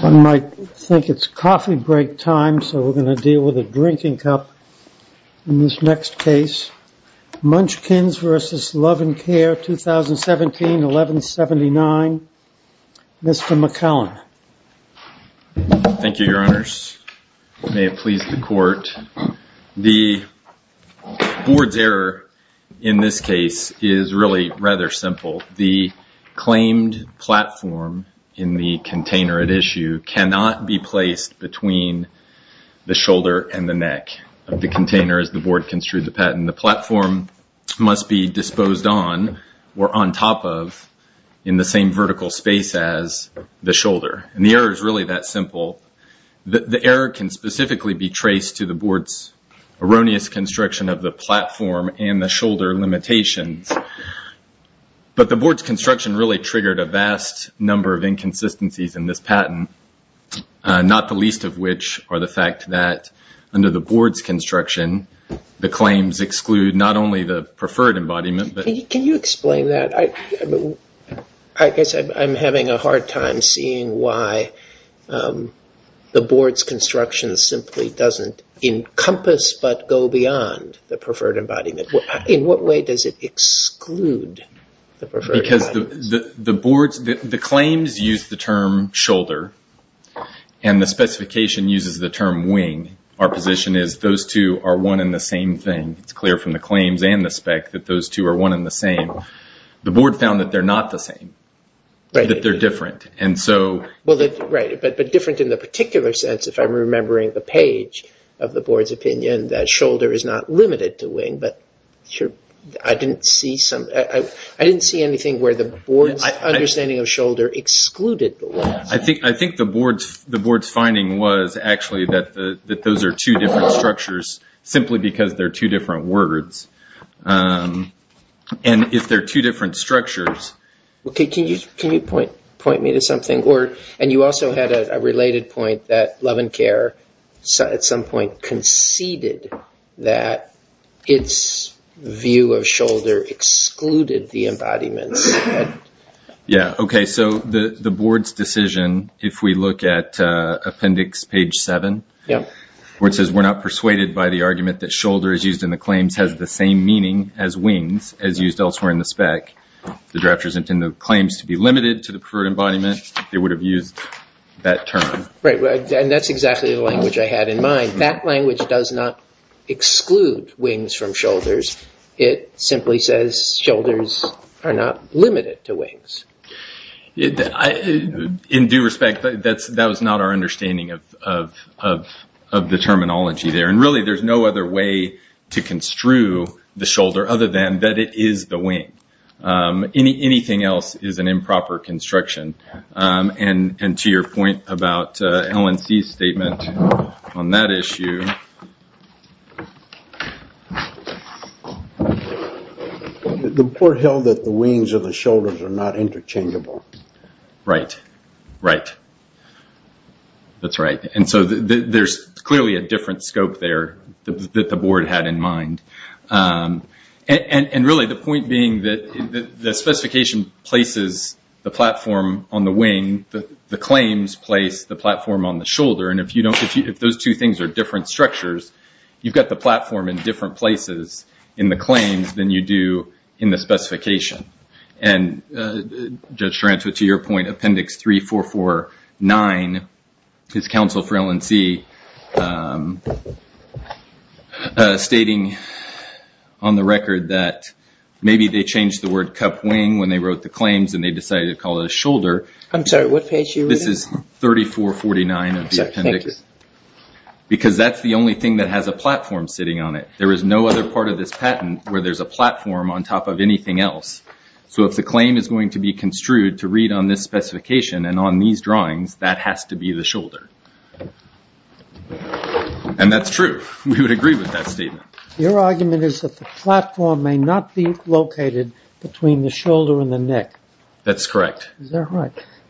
One might think it's coffee break time, so we're going to deal with a drinking cup in this next case. Munchkins v. Luv N' Care, 2017-11-79, Mr. McCallum. Thank you, Your Honors. May it please the Court. The board's error in this case is really rather simple. The claimed platform in the container at issue cannot be placed between the shoulder and the neck of the container as the board construed the patent. The platform must be disposed on or on top of in the same vertical space as the shoulder. The error is really that simple. The error can specifically be traced to the board's erroneous construction of the platform and the shoulder limitations. But the board's construction really triggered a vast number of inconsistencies in this patent, not the least of which are the fact that under the board's construction, the claims exclude not only the preferred embodiment but... Can you explain that? I guess I'm having a hard time seeing why the board's construction simply doesn't encompass but go beyond the preferred embodiment. In what way does it exclude the preferred embodiment? The claims use the term shoulder and the specification uses the term wing. Our position is those two are one and the same thing. It's clear from the claims and the spec that those two are one and the same. The board found that they're not the same, that they're different. Right, but different in the particular sense if I'm remembering the page of the board's opinion that shoulder is not limited to wing. But I didn't see anything where the board's understanding of shoulder excluded the wing. I think the board's finding was actually that those are two different structures simply because they're two different words. If they're two different structures... Can you point me to something? You also had a related point that Love and Care at some point conceded that its view of shoulder excluded the embodiments. The board's decision, if we look at appendix page 7, where it says we're not persuaded by the argument that shoulder is used in the claims has the same meaning as wings as used elsewhere in the spec. The drafters intend the claims to be limited to the preferred embodiment. They would have used that term. Right, and that's exactly the language I had in mind. That language does not exclude wings from shoulders. It simply says shoulders are not limited to wings. In due respect, that was not our understanding of the terminology there. Really, there's no other way to construe the shoulder other than that it is the wing. Anything else is an improper construction. To your point about LNC's statement on that issue... The board held that the wings of the shoulders are not interchangeable. Right, right. That's right. There's clearly a different scope there that the board had in mind. Really, the point being that the specification places the platform on the wing. The claims place the platform on the shoulder. If those two things are different structures, you've got the platform in different places in the claims than you do in the specification. Judge Taranto, to your point, Appendix 3449 is counsel for LNC stating on the record that maybe they changed the word cup wing when they wrote the claims and they decided to call it a shoulder. I'm sorry, what page are you reading? This is 3449 of the appendix. Because that's the only thing that has a platform sitting on it. There is no other part of this patent where there's a platform on top of anything else. So if the claim is going to be construed to read on this specification and on these drawings, that has to be the shoulder. And that's true. We would agree with that statement. Your argument is that the platform may not be located between the shoulder and the neck. That's correct.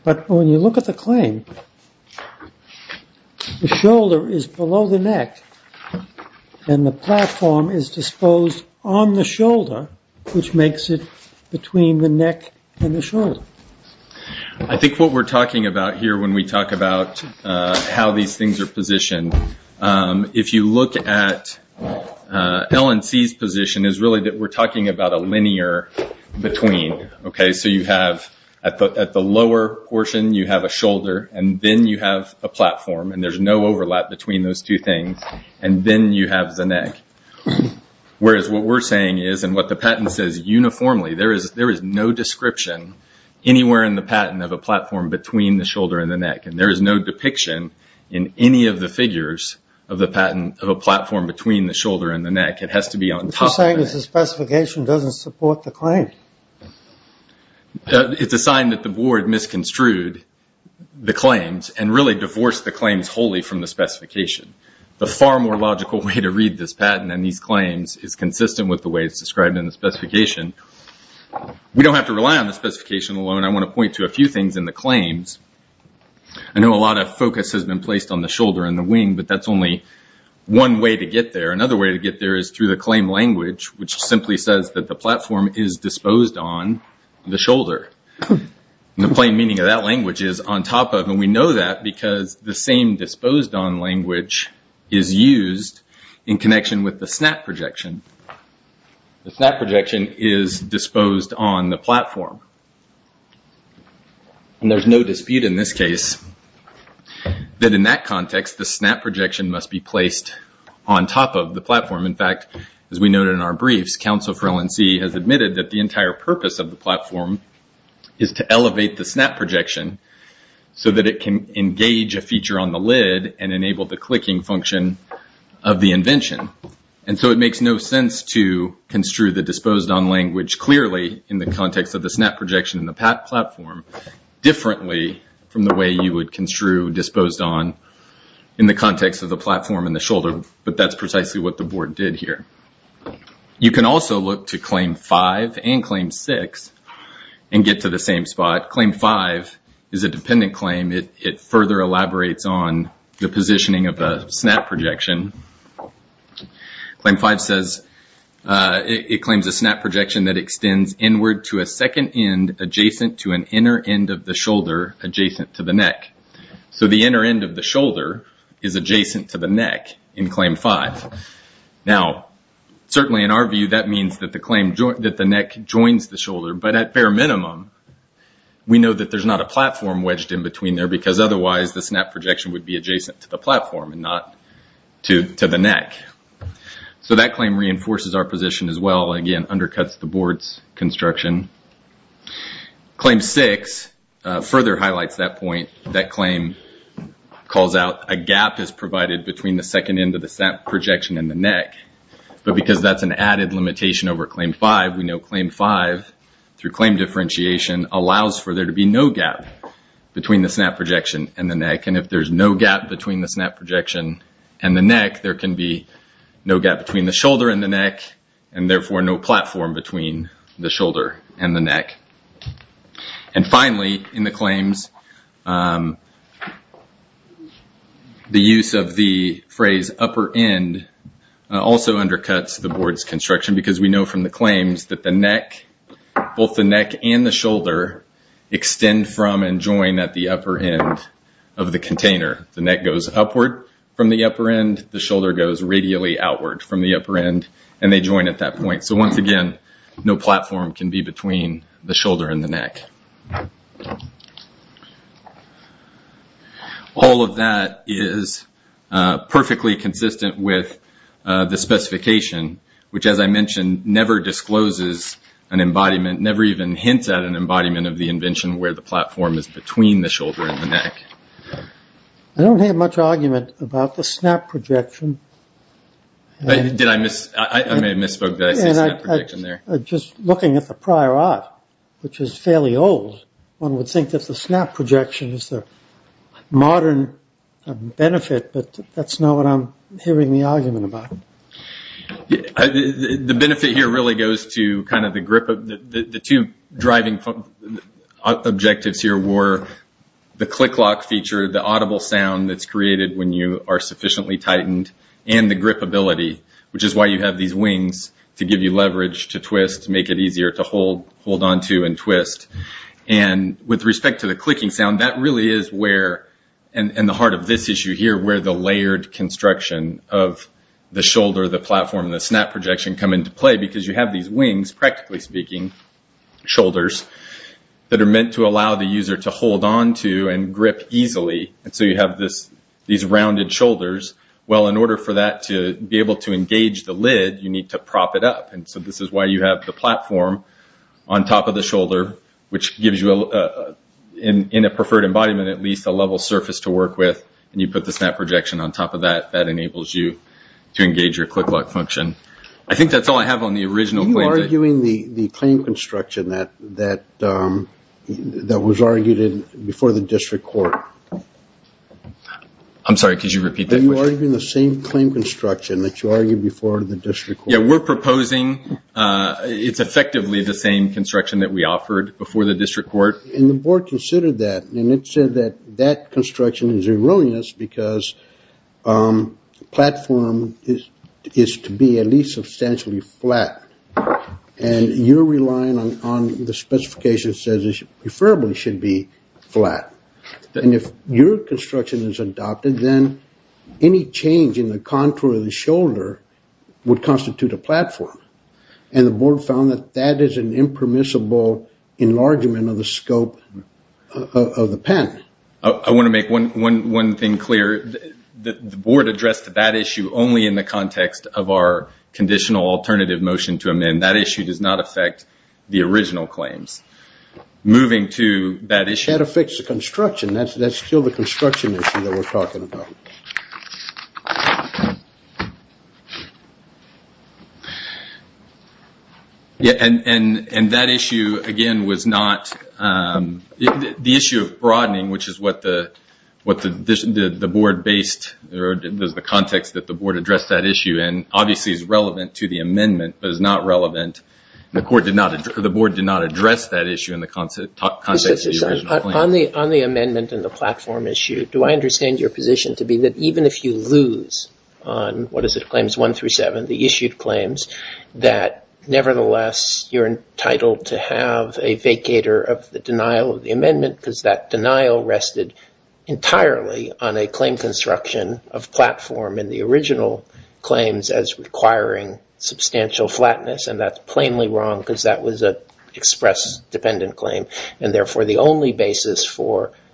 But when you look at the claim, the shoulder is below the neck and the platform is disposed on the shoulder, which makes it between the neck and the shoulder. I think what we're talking about here when we talk about how these things are positioned, if you look at LNC's position, is really that we're talking about a linear between. So at the lower portion you have a shoulder and then you have a platform and there's no overlap between those two things and then you have the neck. Whereas what we're saying is and what the patent says uniformly, there is no description anywhere in the patent of a platform between the shoulder and the neck. And there is no depiction in any of the figures of the patent of a platform between the shoulder and the neck. It has to be on top of it. Because the specification doesn't support the claim. It's a sign that the board misconstrued the claims and really divorced the claims wholly from the specification. The far more logical way to read this patent and these claims is consistent with the way it's described in the specification. We don't have to rely on the specification alone. I want to point to a few things in the claims. I know a lot of focus has been placed on the shoulder and the wing, but that's only one way to get there. Another way to get there is through the claim language which simply says that the platform is disposed on the shoulder. The plain meaning of that language is on top of and we know that because the same disposed on language is used in connection with the snap projection. The snap projection is disposed on the platform. There's no dispute in this case that in that context the snap projection must be placed on top of the platform. In fact, as we noted in our briefs, Council for LNC has admitted that the entire purpose of the platform is to elevate the snap projection so that it can engage a feature on the lid and enable the clicking function of the invention. It makes no sense to construe the disposed on language clearly in the context of the snap projection and the platform differently from the way you would construe disposed on in the context of the platform and the shoulder, but that's precisely what the board did here. You can also look to Claim 5 and Claim 6 and get to the same spot. Claim 5 is a dependent claim. It further elaborates on the positioning of the snap projection. Claim 5 says it claims a snap projection that extends inward to a second end adjacent to an inner end of the shoulder adjacent to the neck. The inner end of the shoulder is adjacent to the neck in Claim 5. Now, certainly in our view that means that the neck joins the shoulder, but at bare minimum we know that there's not a platform wedged in between there, because otherwise the snap projection would be adjacent to the platform and not to the neck. That claim reinforces our position as well, again, undercuts the board's construction. Claim 6 further highlights that point. That claim calls out a gap is provided between the second end of the snap projection and the neck, but because that's an added limitation over Claim 5, we know Claim 5, through claim differentiation, allows for there to be no gap between the snap projection and the neck. If there's no gap between the snap projection and the neck, there can be no gap between the shoulder and the neck, and therefore no platform between the shoulder and the neck. Finally, in the claims, the use of the phrase upper end also undercuts the board's construction, because we know from the claims that the neck, both the neck and the shoulder, extend from and join at the upper end of the container. The neck goes upward from the upper end, the shoulder goes radially outward from the upper end, and they join at that point. So, once again, no platform can be between the shoulder and the neck. All of that is perfectly consistent with the specification, which, as I mentioned, never discloses an embodiment, never even hints at an embodiment of the invention where the platform is between the shoulder and the neck. I don't have much argument about the snap projection. I may have misspoke. Did I say snap projection there? Just looking at the prior art, which is fairly old, one would think that the snap projection is the modern benefit, but that's not what I'm hearing the argument about. The benefit here really goes to kind of the grip of the two driving objectives here were the click lock feature, the audible sound that's created when you are sufficiently tightened, and the grip ability, which is why you have these wings to give you leverage to twist, make it easier to hold onto and twist. With respect to the clicking sound, that really is where, in the heart of this issue here, where the layered construction of the shoulder, the platform, and the snap projection come into play because you have these wings, practically speaking, shoulders, that are meant to allow the user to hold onto and grip easily, and so you have these rounded shoulders. Well, in order for that to be able to engage the lid, you need to prop it up, and so this is why you have the platform on top of the shoulder, which gives you, in a preferred embodiment, at least a level surface to work with, and you put the snap projection on top of that. That enables you to engage your click lock function. I think that's all I have on the original claims. Are you arguing the claim construction that was argued before the district court? I'm sorry, could you repeat that? Are you arguing the same claim construction that you argued before the district court? Yeah, we're proposing it's effectively the same construction that we offered before the district court. And the board considered that, and it said that that construction is erroneous because the platform is to be at least substantially flat, and you're relying on the specification that says it preferably should be flat. And if your construction is adopted, then any change in the contour of the shoulder would constitute a platform, and the board found that that is an impermissible enlargement of the scope of the pen. I want to make one thing clear. The board addressed that issue only in the context of our conditional alternative motion to amend. That issue does not affect the original claims. Moving to that issue. That affects the construction. That's still the construction issue that we're talking about. And that issue, again, was not the issue of broadening, which is what the board based or the context that the board addressed that issue in, obviously is relevant to the amendment, but is not relevant. The board did not address that issue in the context of the original claim. On the amendment and the platform issue, do I understand your position to be that even if you lose on, what is it, Claims 1 through 7, the issued claims, that nevertheless you're entitled to have a vacator of the denial of the amendment because that denial rested entirely on a claim construction of platform in the original claims as requiring substantial flatness, and that's plainly wrong because that was an express dependent claim, and therefore the only basis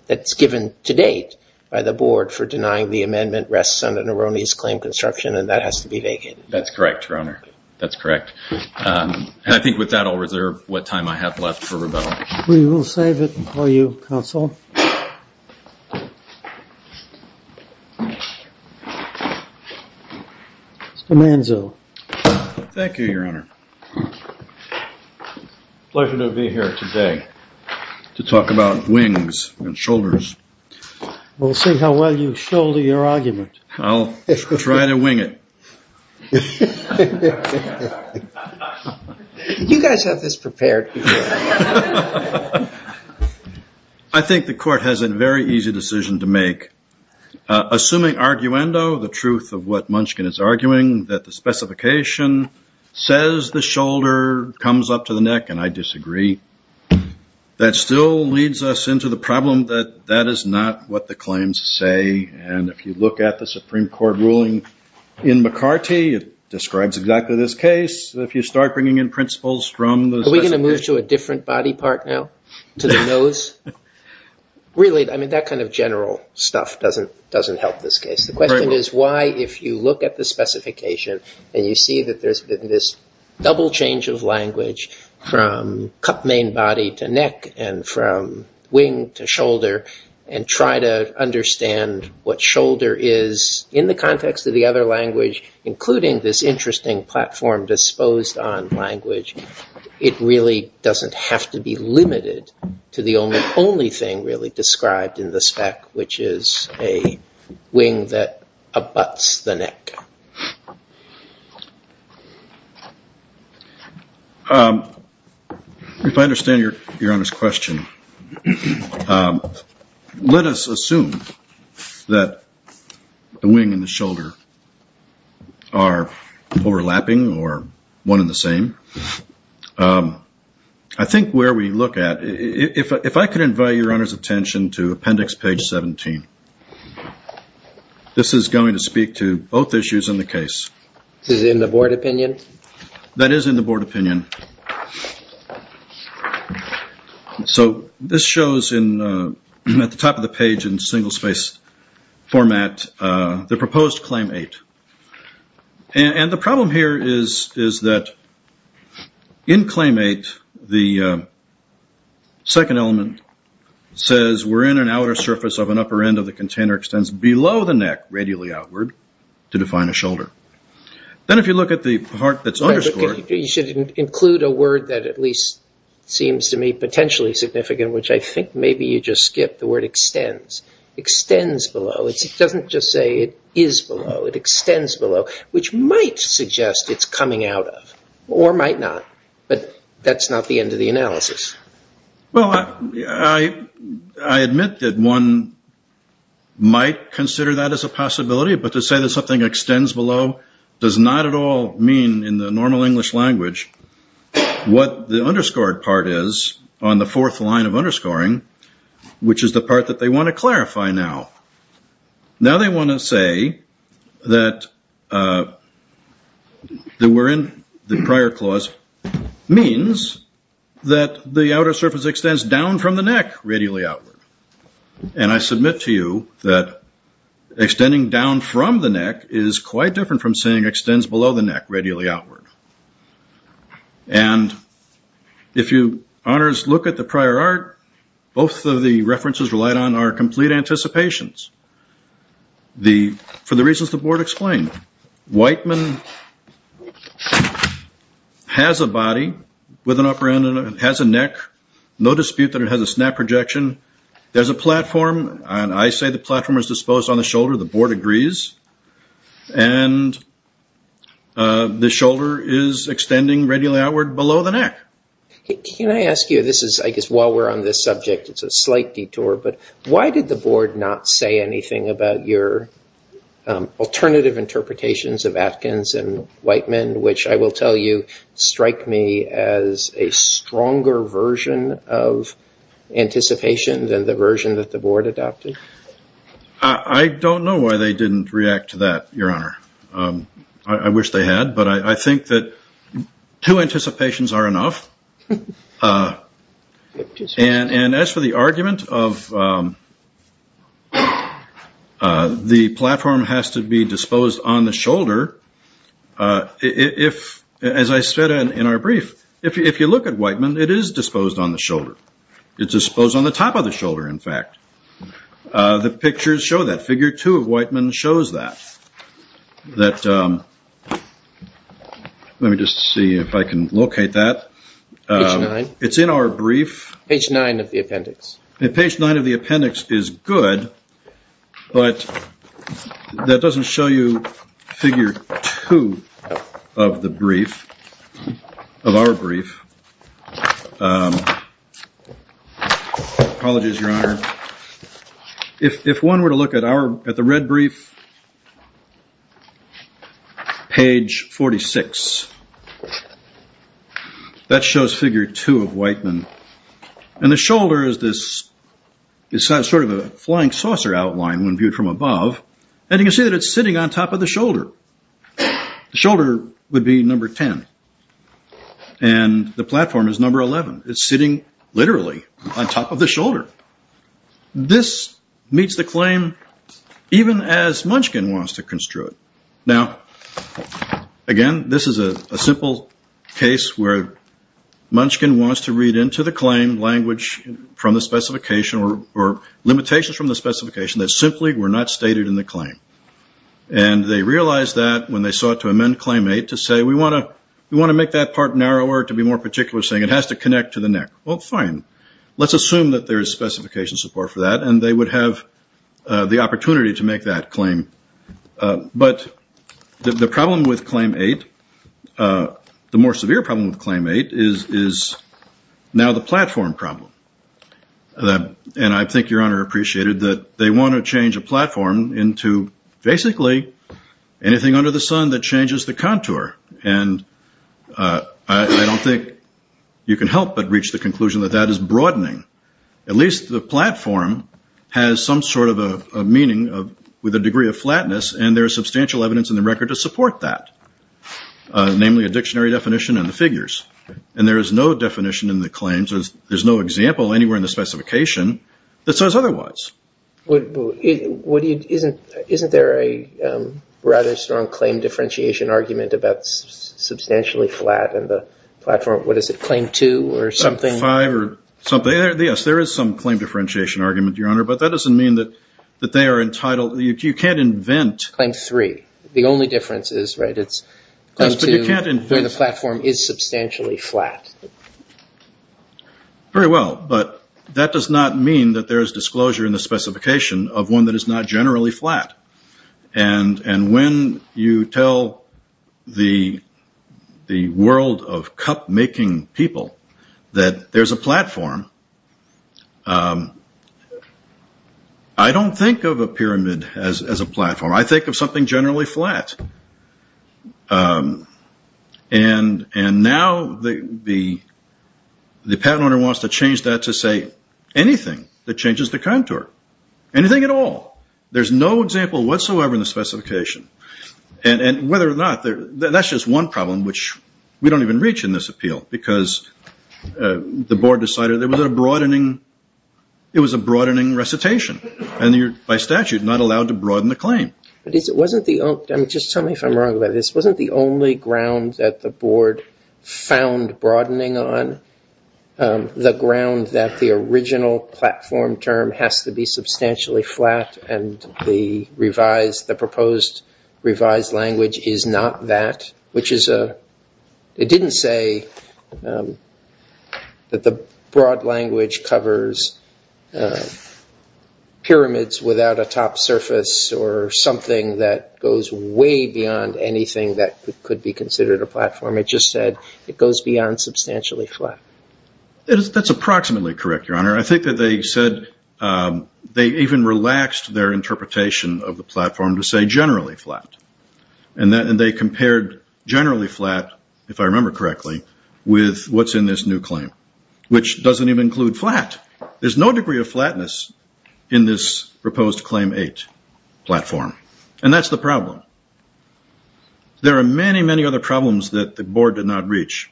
that's given to date by the board for denying the amendment rests on an erroneous claim construction, and that has to be vacated. That's correct, Your Honor. That's correct. And I think with that, I'll reserve what time I have left for rebuttal. We will save it for you, Counsel. Mr. Manzo. Thank you, Your Honor. Pleasure to be here today to talk about wings and shoulders. We'll see how well you shoulder your argument. I'll try to wing it. You guys have this prepared. I think the court has a very easy decision to make. Assuming arguendo, the truth of what Munchkin is arguing, that the specification says the shoulder comes up to the neck, and I disagree, that still leads us into the problem that that is not what the claims say, and if you look at the Supreme Court ruling in McCarty, it describes exactly this case. If you start bringing in principles from the specification. Are we going to move to a different body part now, to the nose? Really, I mean, that kind of general stuff doesn't help this case. The question is why, if you look at the specification, and you see that there's been this double change of language from cup main body to neck, and from wing to shoulder, and try to understand what shoulder is, in the context of the other language, including this interesting platform disposed on language, it really doesn't have to be limited to the only thing really described in the spec, which is a wing that abuts the neck. If I understand Your Honor's question, let us assume that the wing and the shoulder are overlapping, or one and the same. I think where we look at, if I could invite Your Honor's attention to appendix page 17. This is going to speak to both issues in the case. Is it in the board opinion? That is in the board opinion. So this shows at the top of the page in single-spaced format, the proposed claim eight. And the problem here is that in claim eight, the second element says, we're in an outer surface of an upper end of the container extends below the neck, radially outward, to define a shoulder. Then if you look at the part that's underscored. You should include a word that at least seems to me potentially significant, which I think maybe you just skipped, the word extends. Extends below. It doesn't just say it is below. It extends below, which might suggest it's coming out of, or might not. But that's not the end of the analysis. Well, I admit that one might consider that as a possibility, but to say that something extends below does not at all mean in the normal English language, what the underscored part is on the fourth line of underscoring, which is the part that they want to clarify now. Now they want to say that we're in the prior clause means that the outer surface extends down from the neck, radially outward. And I submit to you that extending down from the neck is quite different from saying extends below the neck, radially outward. And if you honors look at the prior art, both of the references relied on are complete anticipations. For the reasons the board explained, Whiteman has a body with an upper end and has a neck. No dispute that it has a snap projection. There's a platform, and I say the platform is disposed on the shoulder. The board agrees. And the shoulder is extending radially outward below the neck. Can I ask you this is I guess while we're on this subject, it's a slight detour. But why did the board not say anything about your alternative interpretations of Atkins and Whiteman, which I will tell you strike me as a stronger version of anticipation than the version that the board adopted? I don't know why they didn't react to that, Your Honor. I wish they had. But I think that two anticipations are enough. And as for the argument of the platform has to be disposed on the shoulder. If, as I said in our brief, if you look at Whiteman, it is disposed on the shoulder. It's disposed on the top of the shoulder, in fact. The pictures show that. Figure two of Whiteman shows that. Let me just see if I can locate that. It's in our brief. Page nine of the appendix. Page nine of the appendix is good. But that doesn't show you figure two of the brief of our brief. Apologies, Your Honor. If one were to look at our at the red brief. Page 46. That shows figure two of Whiteman. And the shoulder is sort of a flying saucer outline when viewed from above. And you can see that it's sitting on top of the shoulder. The shoulder would be number 10. And the platform is number 11. It's sitting literally on top of the shoulder. This meets the claim even as Munchkin wants to construe it. Now, again, this is a simple case where Munchkin wants to read into the claim language from the specification or limitations from the specification that simply were not stated in the claim. And they realized that when they sought to amend claim eight to say, we want to make that part narrower to be more particular, saying it has to connect to the neck. Well, fine. Let's assume that there is specification support for that, and they would have the opportunity to make that claim. But the problem with claim eight, the more severe problem with claim eight, is now the platform problem. And I think Your Honor appreciated that they want to change a platform into basically anything under the sun that changes the contour. And I don't think you can help but reach the conclusion that that is broadening. At least the platform has some sort of a meaning with a degree of flatness, and there is substantial evidence in the record to support that, namely a dictionary definition and the figures. And there is no definition in the claims, there's no example anywhere in the specification that says otherwise. Isn't there a rather strong claim differentiation argument about substantially flat in the platform? What is it, claim two or something? Yes, there is some claim differentiation argument, Your Honor, but that doesn't mean that they are entitled. You can't invent. Claim three. The only difference is, right, it's claim two, where the platform is substantially flat. Very well. But that does not mean that there is disclosure in the specification of one that is not generally flat. And when you tell the world of cup-making people that there's a platform, I don't think of a pyramid as a platform. I think of something generally flat. And now the patent owner wants to change that to say anything that changes the contour, anything at all. There's no example whatsoever in the specification. And whether or not, that's just one problem, which we don't even reach in this appeal, because the board decided there was a broadening, it was a broadening recitation. And you're, by statute, not allowed to broaden the claim. Just tell me if I'm wrong about this. Wasn't the only ground that the board found broadening on the ground that the revised, the proposed revised language is not that, which is a, it didn't say that the broad language covers pyramids without a top surface or something that goes way beyond anything that could be considered a platform. It just said it goes beyond substantially flat. That's approximately correct, Your Honor. I think that they said they even relaxed their interpretation of the platform to say generally flat. And they compared generally flat, if I remember correctly, with what's in this new claim, which doesn't even include flat. There's no degree of flatness in this proposed Claim 8 platform. And that's the problem. There are many, many other problems that the board did not reach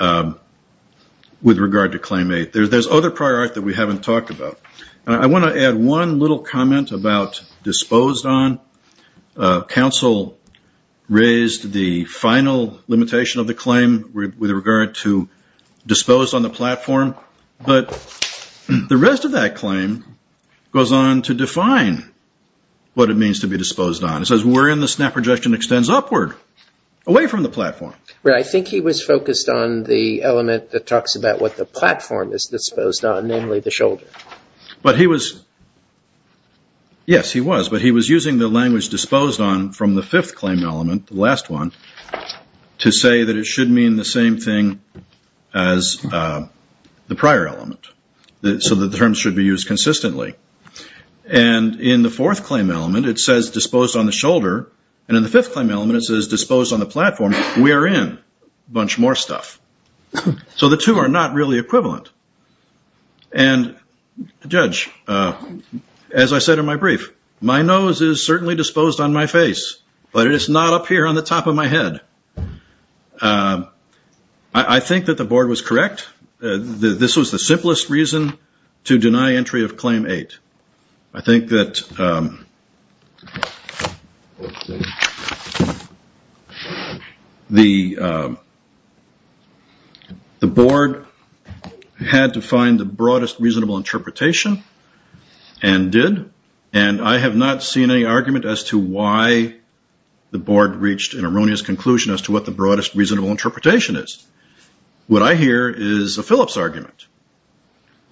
with regard to Claim 8. There's other priorities that we haven't talked about. And I want to add one little comment about disposed on. Counsel raised the final limitation of the claim with regard to disposed on the platform. But the rest of that claim goes on to define what it means to be disposed on. It says wherein the snap projection extends upward, away from the platform. I think he was focused on the element that talks about what the platform is disposed on, namely the shoulder. Yes, he was. But he was using the language disposed on from the fifth claim element, the last one, to say that it should mean the same thing as the prior element, so that the terms should be used consistently. And in the fourth claim element, it says disposed on the shoulder. And in the fifth claim element, it says disposed on the platform. We are in a bunch more stuff. So the two are not really equivalent. And, Judge, as I said in my brief, my nose is certainly disposed on my face, but it is not up here on the top of my head. I think that the board was correct. This was the simplest reason to deny entry of Claim 8. I think that the board had to find the broadest reasonable interpretation and did. And I have not seen any argument as to why the board reached an erroneous conclusion as to what the broadest reasonable interpretation is. What I hear is a Phillips argument.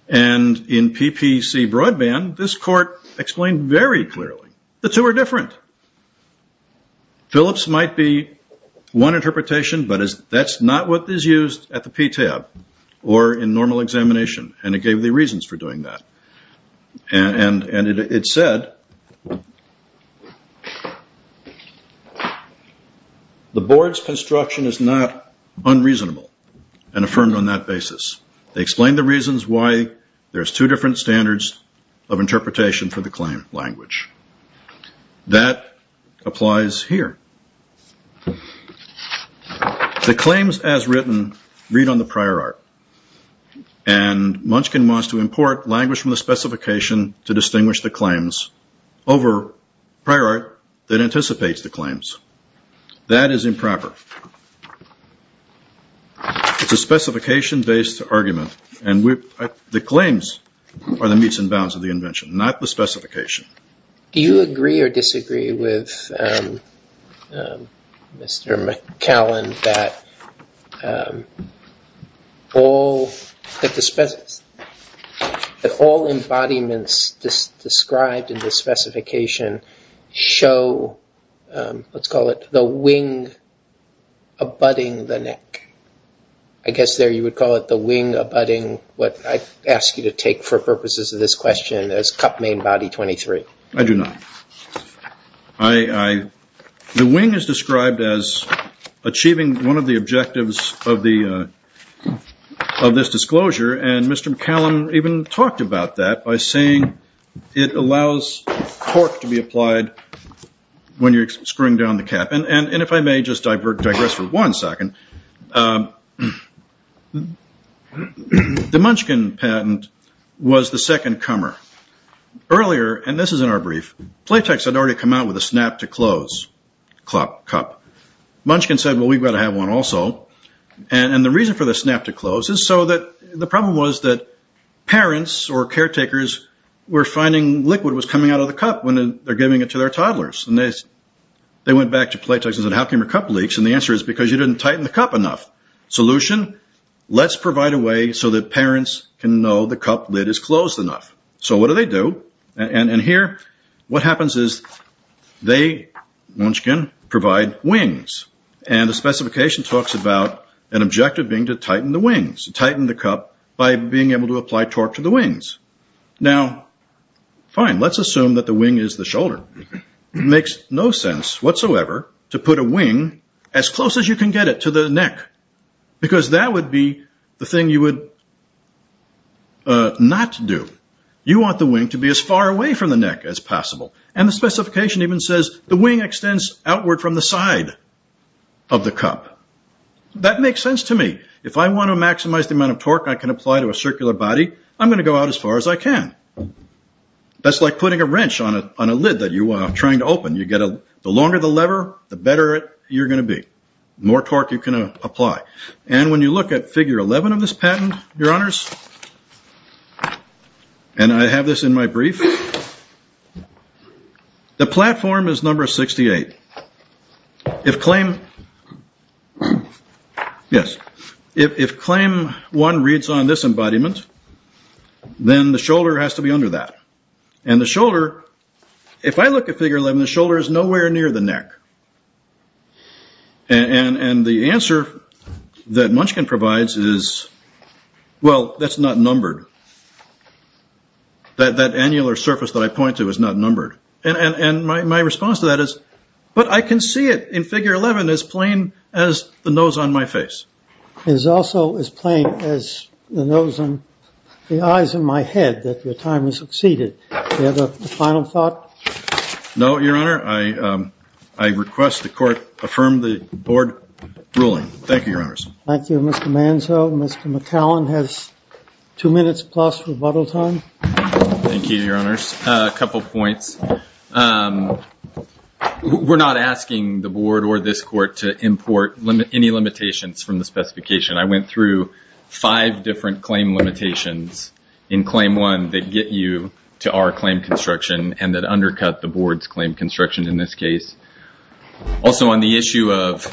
And in PPC Broadband, this court explained very clearly the two are different. Phillips might be one interpretation, but that is not what is used at the PTAB or in normal examination, and it gave the reasons for doing that. And it said the board's construction is not unreasonable and affirmed on that basis. They explained the reasons why there is two different standards of interpretation for the claim language. That applies here. The claims as written read on the prior art. And Munchkin wants to import language from the specification to distinguish the claims over prior art that anticipates the claims. That is improper. It's a specification-based argument. And the claims are the meets and bounds of the invention, not the specification. Do you agree or disagree with Mr. McCallum that all embodiments described in the abutting the neck? I guess there you would call it the wing abutting what I ask you to take for purposes of this question as cup main body 23. I do not. The wing is described as achieving one of the objectives of this disclosure, and Mr. McCallum even talked about that by saying it allows torque to be applied when you're screwing down the cap. And if I may just digress for one second, the Munchkin patent was the second comer. Earlier, and this is in our brief, Playtex had already come out with a snap-to-close cup. Munchkin said, well, we've got to have one also. And the reason for the snap-to-close is so that the problem was that parents or caretakers were finding liquid was coming out of the cup when they're giving it to their toddlers. And they went back to Playtex and said, how come your cup leaks? And the answer is because you didn't tighten the cup enough. Solution, let's provide a way so that parents can know the cup lid is closed enough. So what do they do? And here what happens is they, Munchkin, provide wings. And the specification talks about an objective being to tighten the wings, to tighten the cup by being able to apply torque to the wings. Now, fine, let's assume that the wing is the shoulder. It makes no sense whatsoever to put a wing as close as you can get it to the neck because that would be the thing you would not do. You want the wing to be as far away from the neck as possible. And the specification even says the wing extends outward from the side of the cup. That makes sense to me. If I want to maximize the amount of torque I can apply to a circular body, I'm going to go out as far as I can. That's like putting a wrench on a lid that you are trying to open. The longer the lever, the better you're going to be, the more torque you can apply. And when you look at figure 11 of this patent, your honors, and I have this in my brief, the platform is number 68. If claim one reads on this embodiment, then the shoulder has to be under that. And the shoulder, if I look at figure 11, the shoulder is nowhere near the neck. And the answer that Munchkin provides is, well, that's not numbered. And my response to that is, but I can see it in figure 11, as plain as the nose on my face. It is also as plain as the eyes in my head that your time has succeeded. Do you have a final thought? No, your honor. I request the court affirm the board ruling. Thank you, your honors. Thank you, Mr. Manzo. Mr. McAllen has two minutes plus rebuttal time. Thank you, your honors. A couple points. We're not asking the board or this court to import any limitations from the specification. I went through five different claim limitations in claim one that get you to our claim construction and that undercut the board's claim construction in this case. Also, on the issue of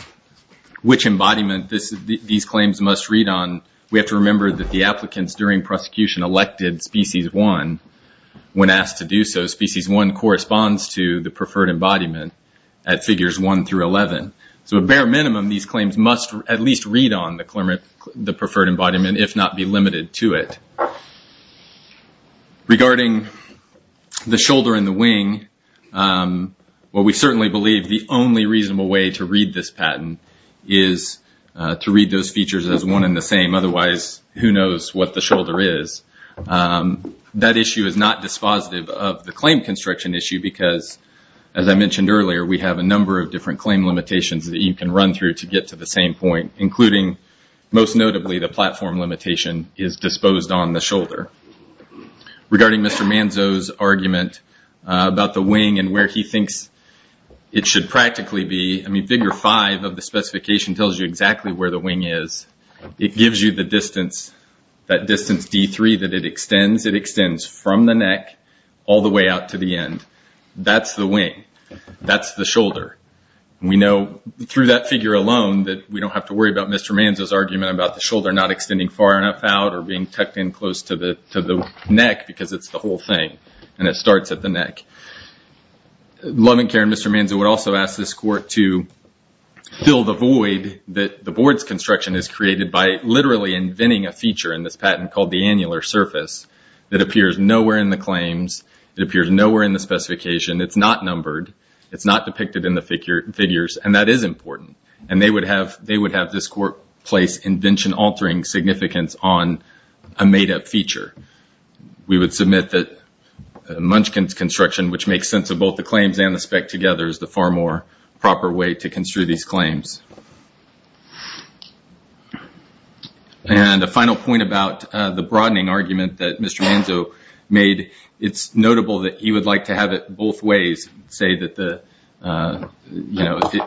which embodiment these claims must read on, we have to remember that the applicants during prosecution elected species one. When asked to do so, species one corresponds to the preferred embodiment at figures one through 11. So a bare minimum, these claims must at least read on the preferred embodiment, if not be limited to it. Regarding the shoulder and the wing, we certainly believe the only reasonable way to read this patent is to read those features as one and the same. Otherwise, who knows what the shoulder is. That issue is not dispositive of the claim construction issue because, as I mentioned earlier, we have a number of different claim limitations that you can run through to get to the same point, including most notably the platform limitation is disposed on the shoulder. Regarding Mr. Manzo's argument about the wing and where he thinks it should practically be, figure five of the specification tells you exactly where the wing is. It gives you the distance, that distance D3 that it extends. It extends from the neck all the way out to the end. That's the wing. That's the shoulder. We know through that figure alone that we don't have to worry about Mr. Manzo's argument about the shoulder not extending far enough out or being tucked in close to the neck because it's the whole thing and it starts at the neck. Love and Care and Mr. Manzo would also ask this court to fill the void that the board's construction is created by literally inventing a feature in this patent called the annular surface that appears nowhere in the claims. It appears nowhere in the specification. It's not numbered. It's not depicted in the figures, and that is important. They would have this court place invention-altering significance on a made-up feature. We would submit that Munchkin's construction, which makes sense of both the claims and the spec together, is the far more proper way to construe these claims. A final point about the broadening argument that Mr. Manzo made, it's notable that he would like to have it both ways, say that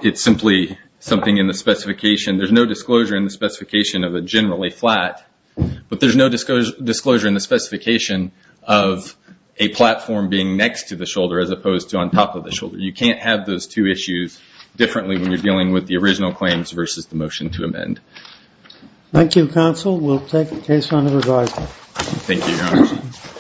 it's simply something in the specification. There's no disclosure in the specification of a generally flat, but there's no disclosure in the specification of a platform being next to the shoulder as opposed to on top of the shoulder. You can't have those two issues differently when you're dealing with the original claims versus the motion to amend. Thank you, counsel. We'll take the case on the revised. Thank you, Your Honor.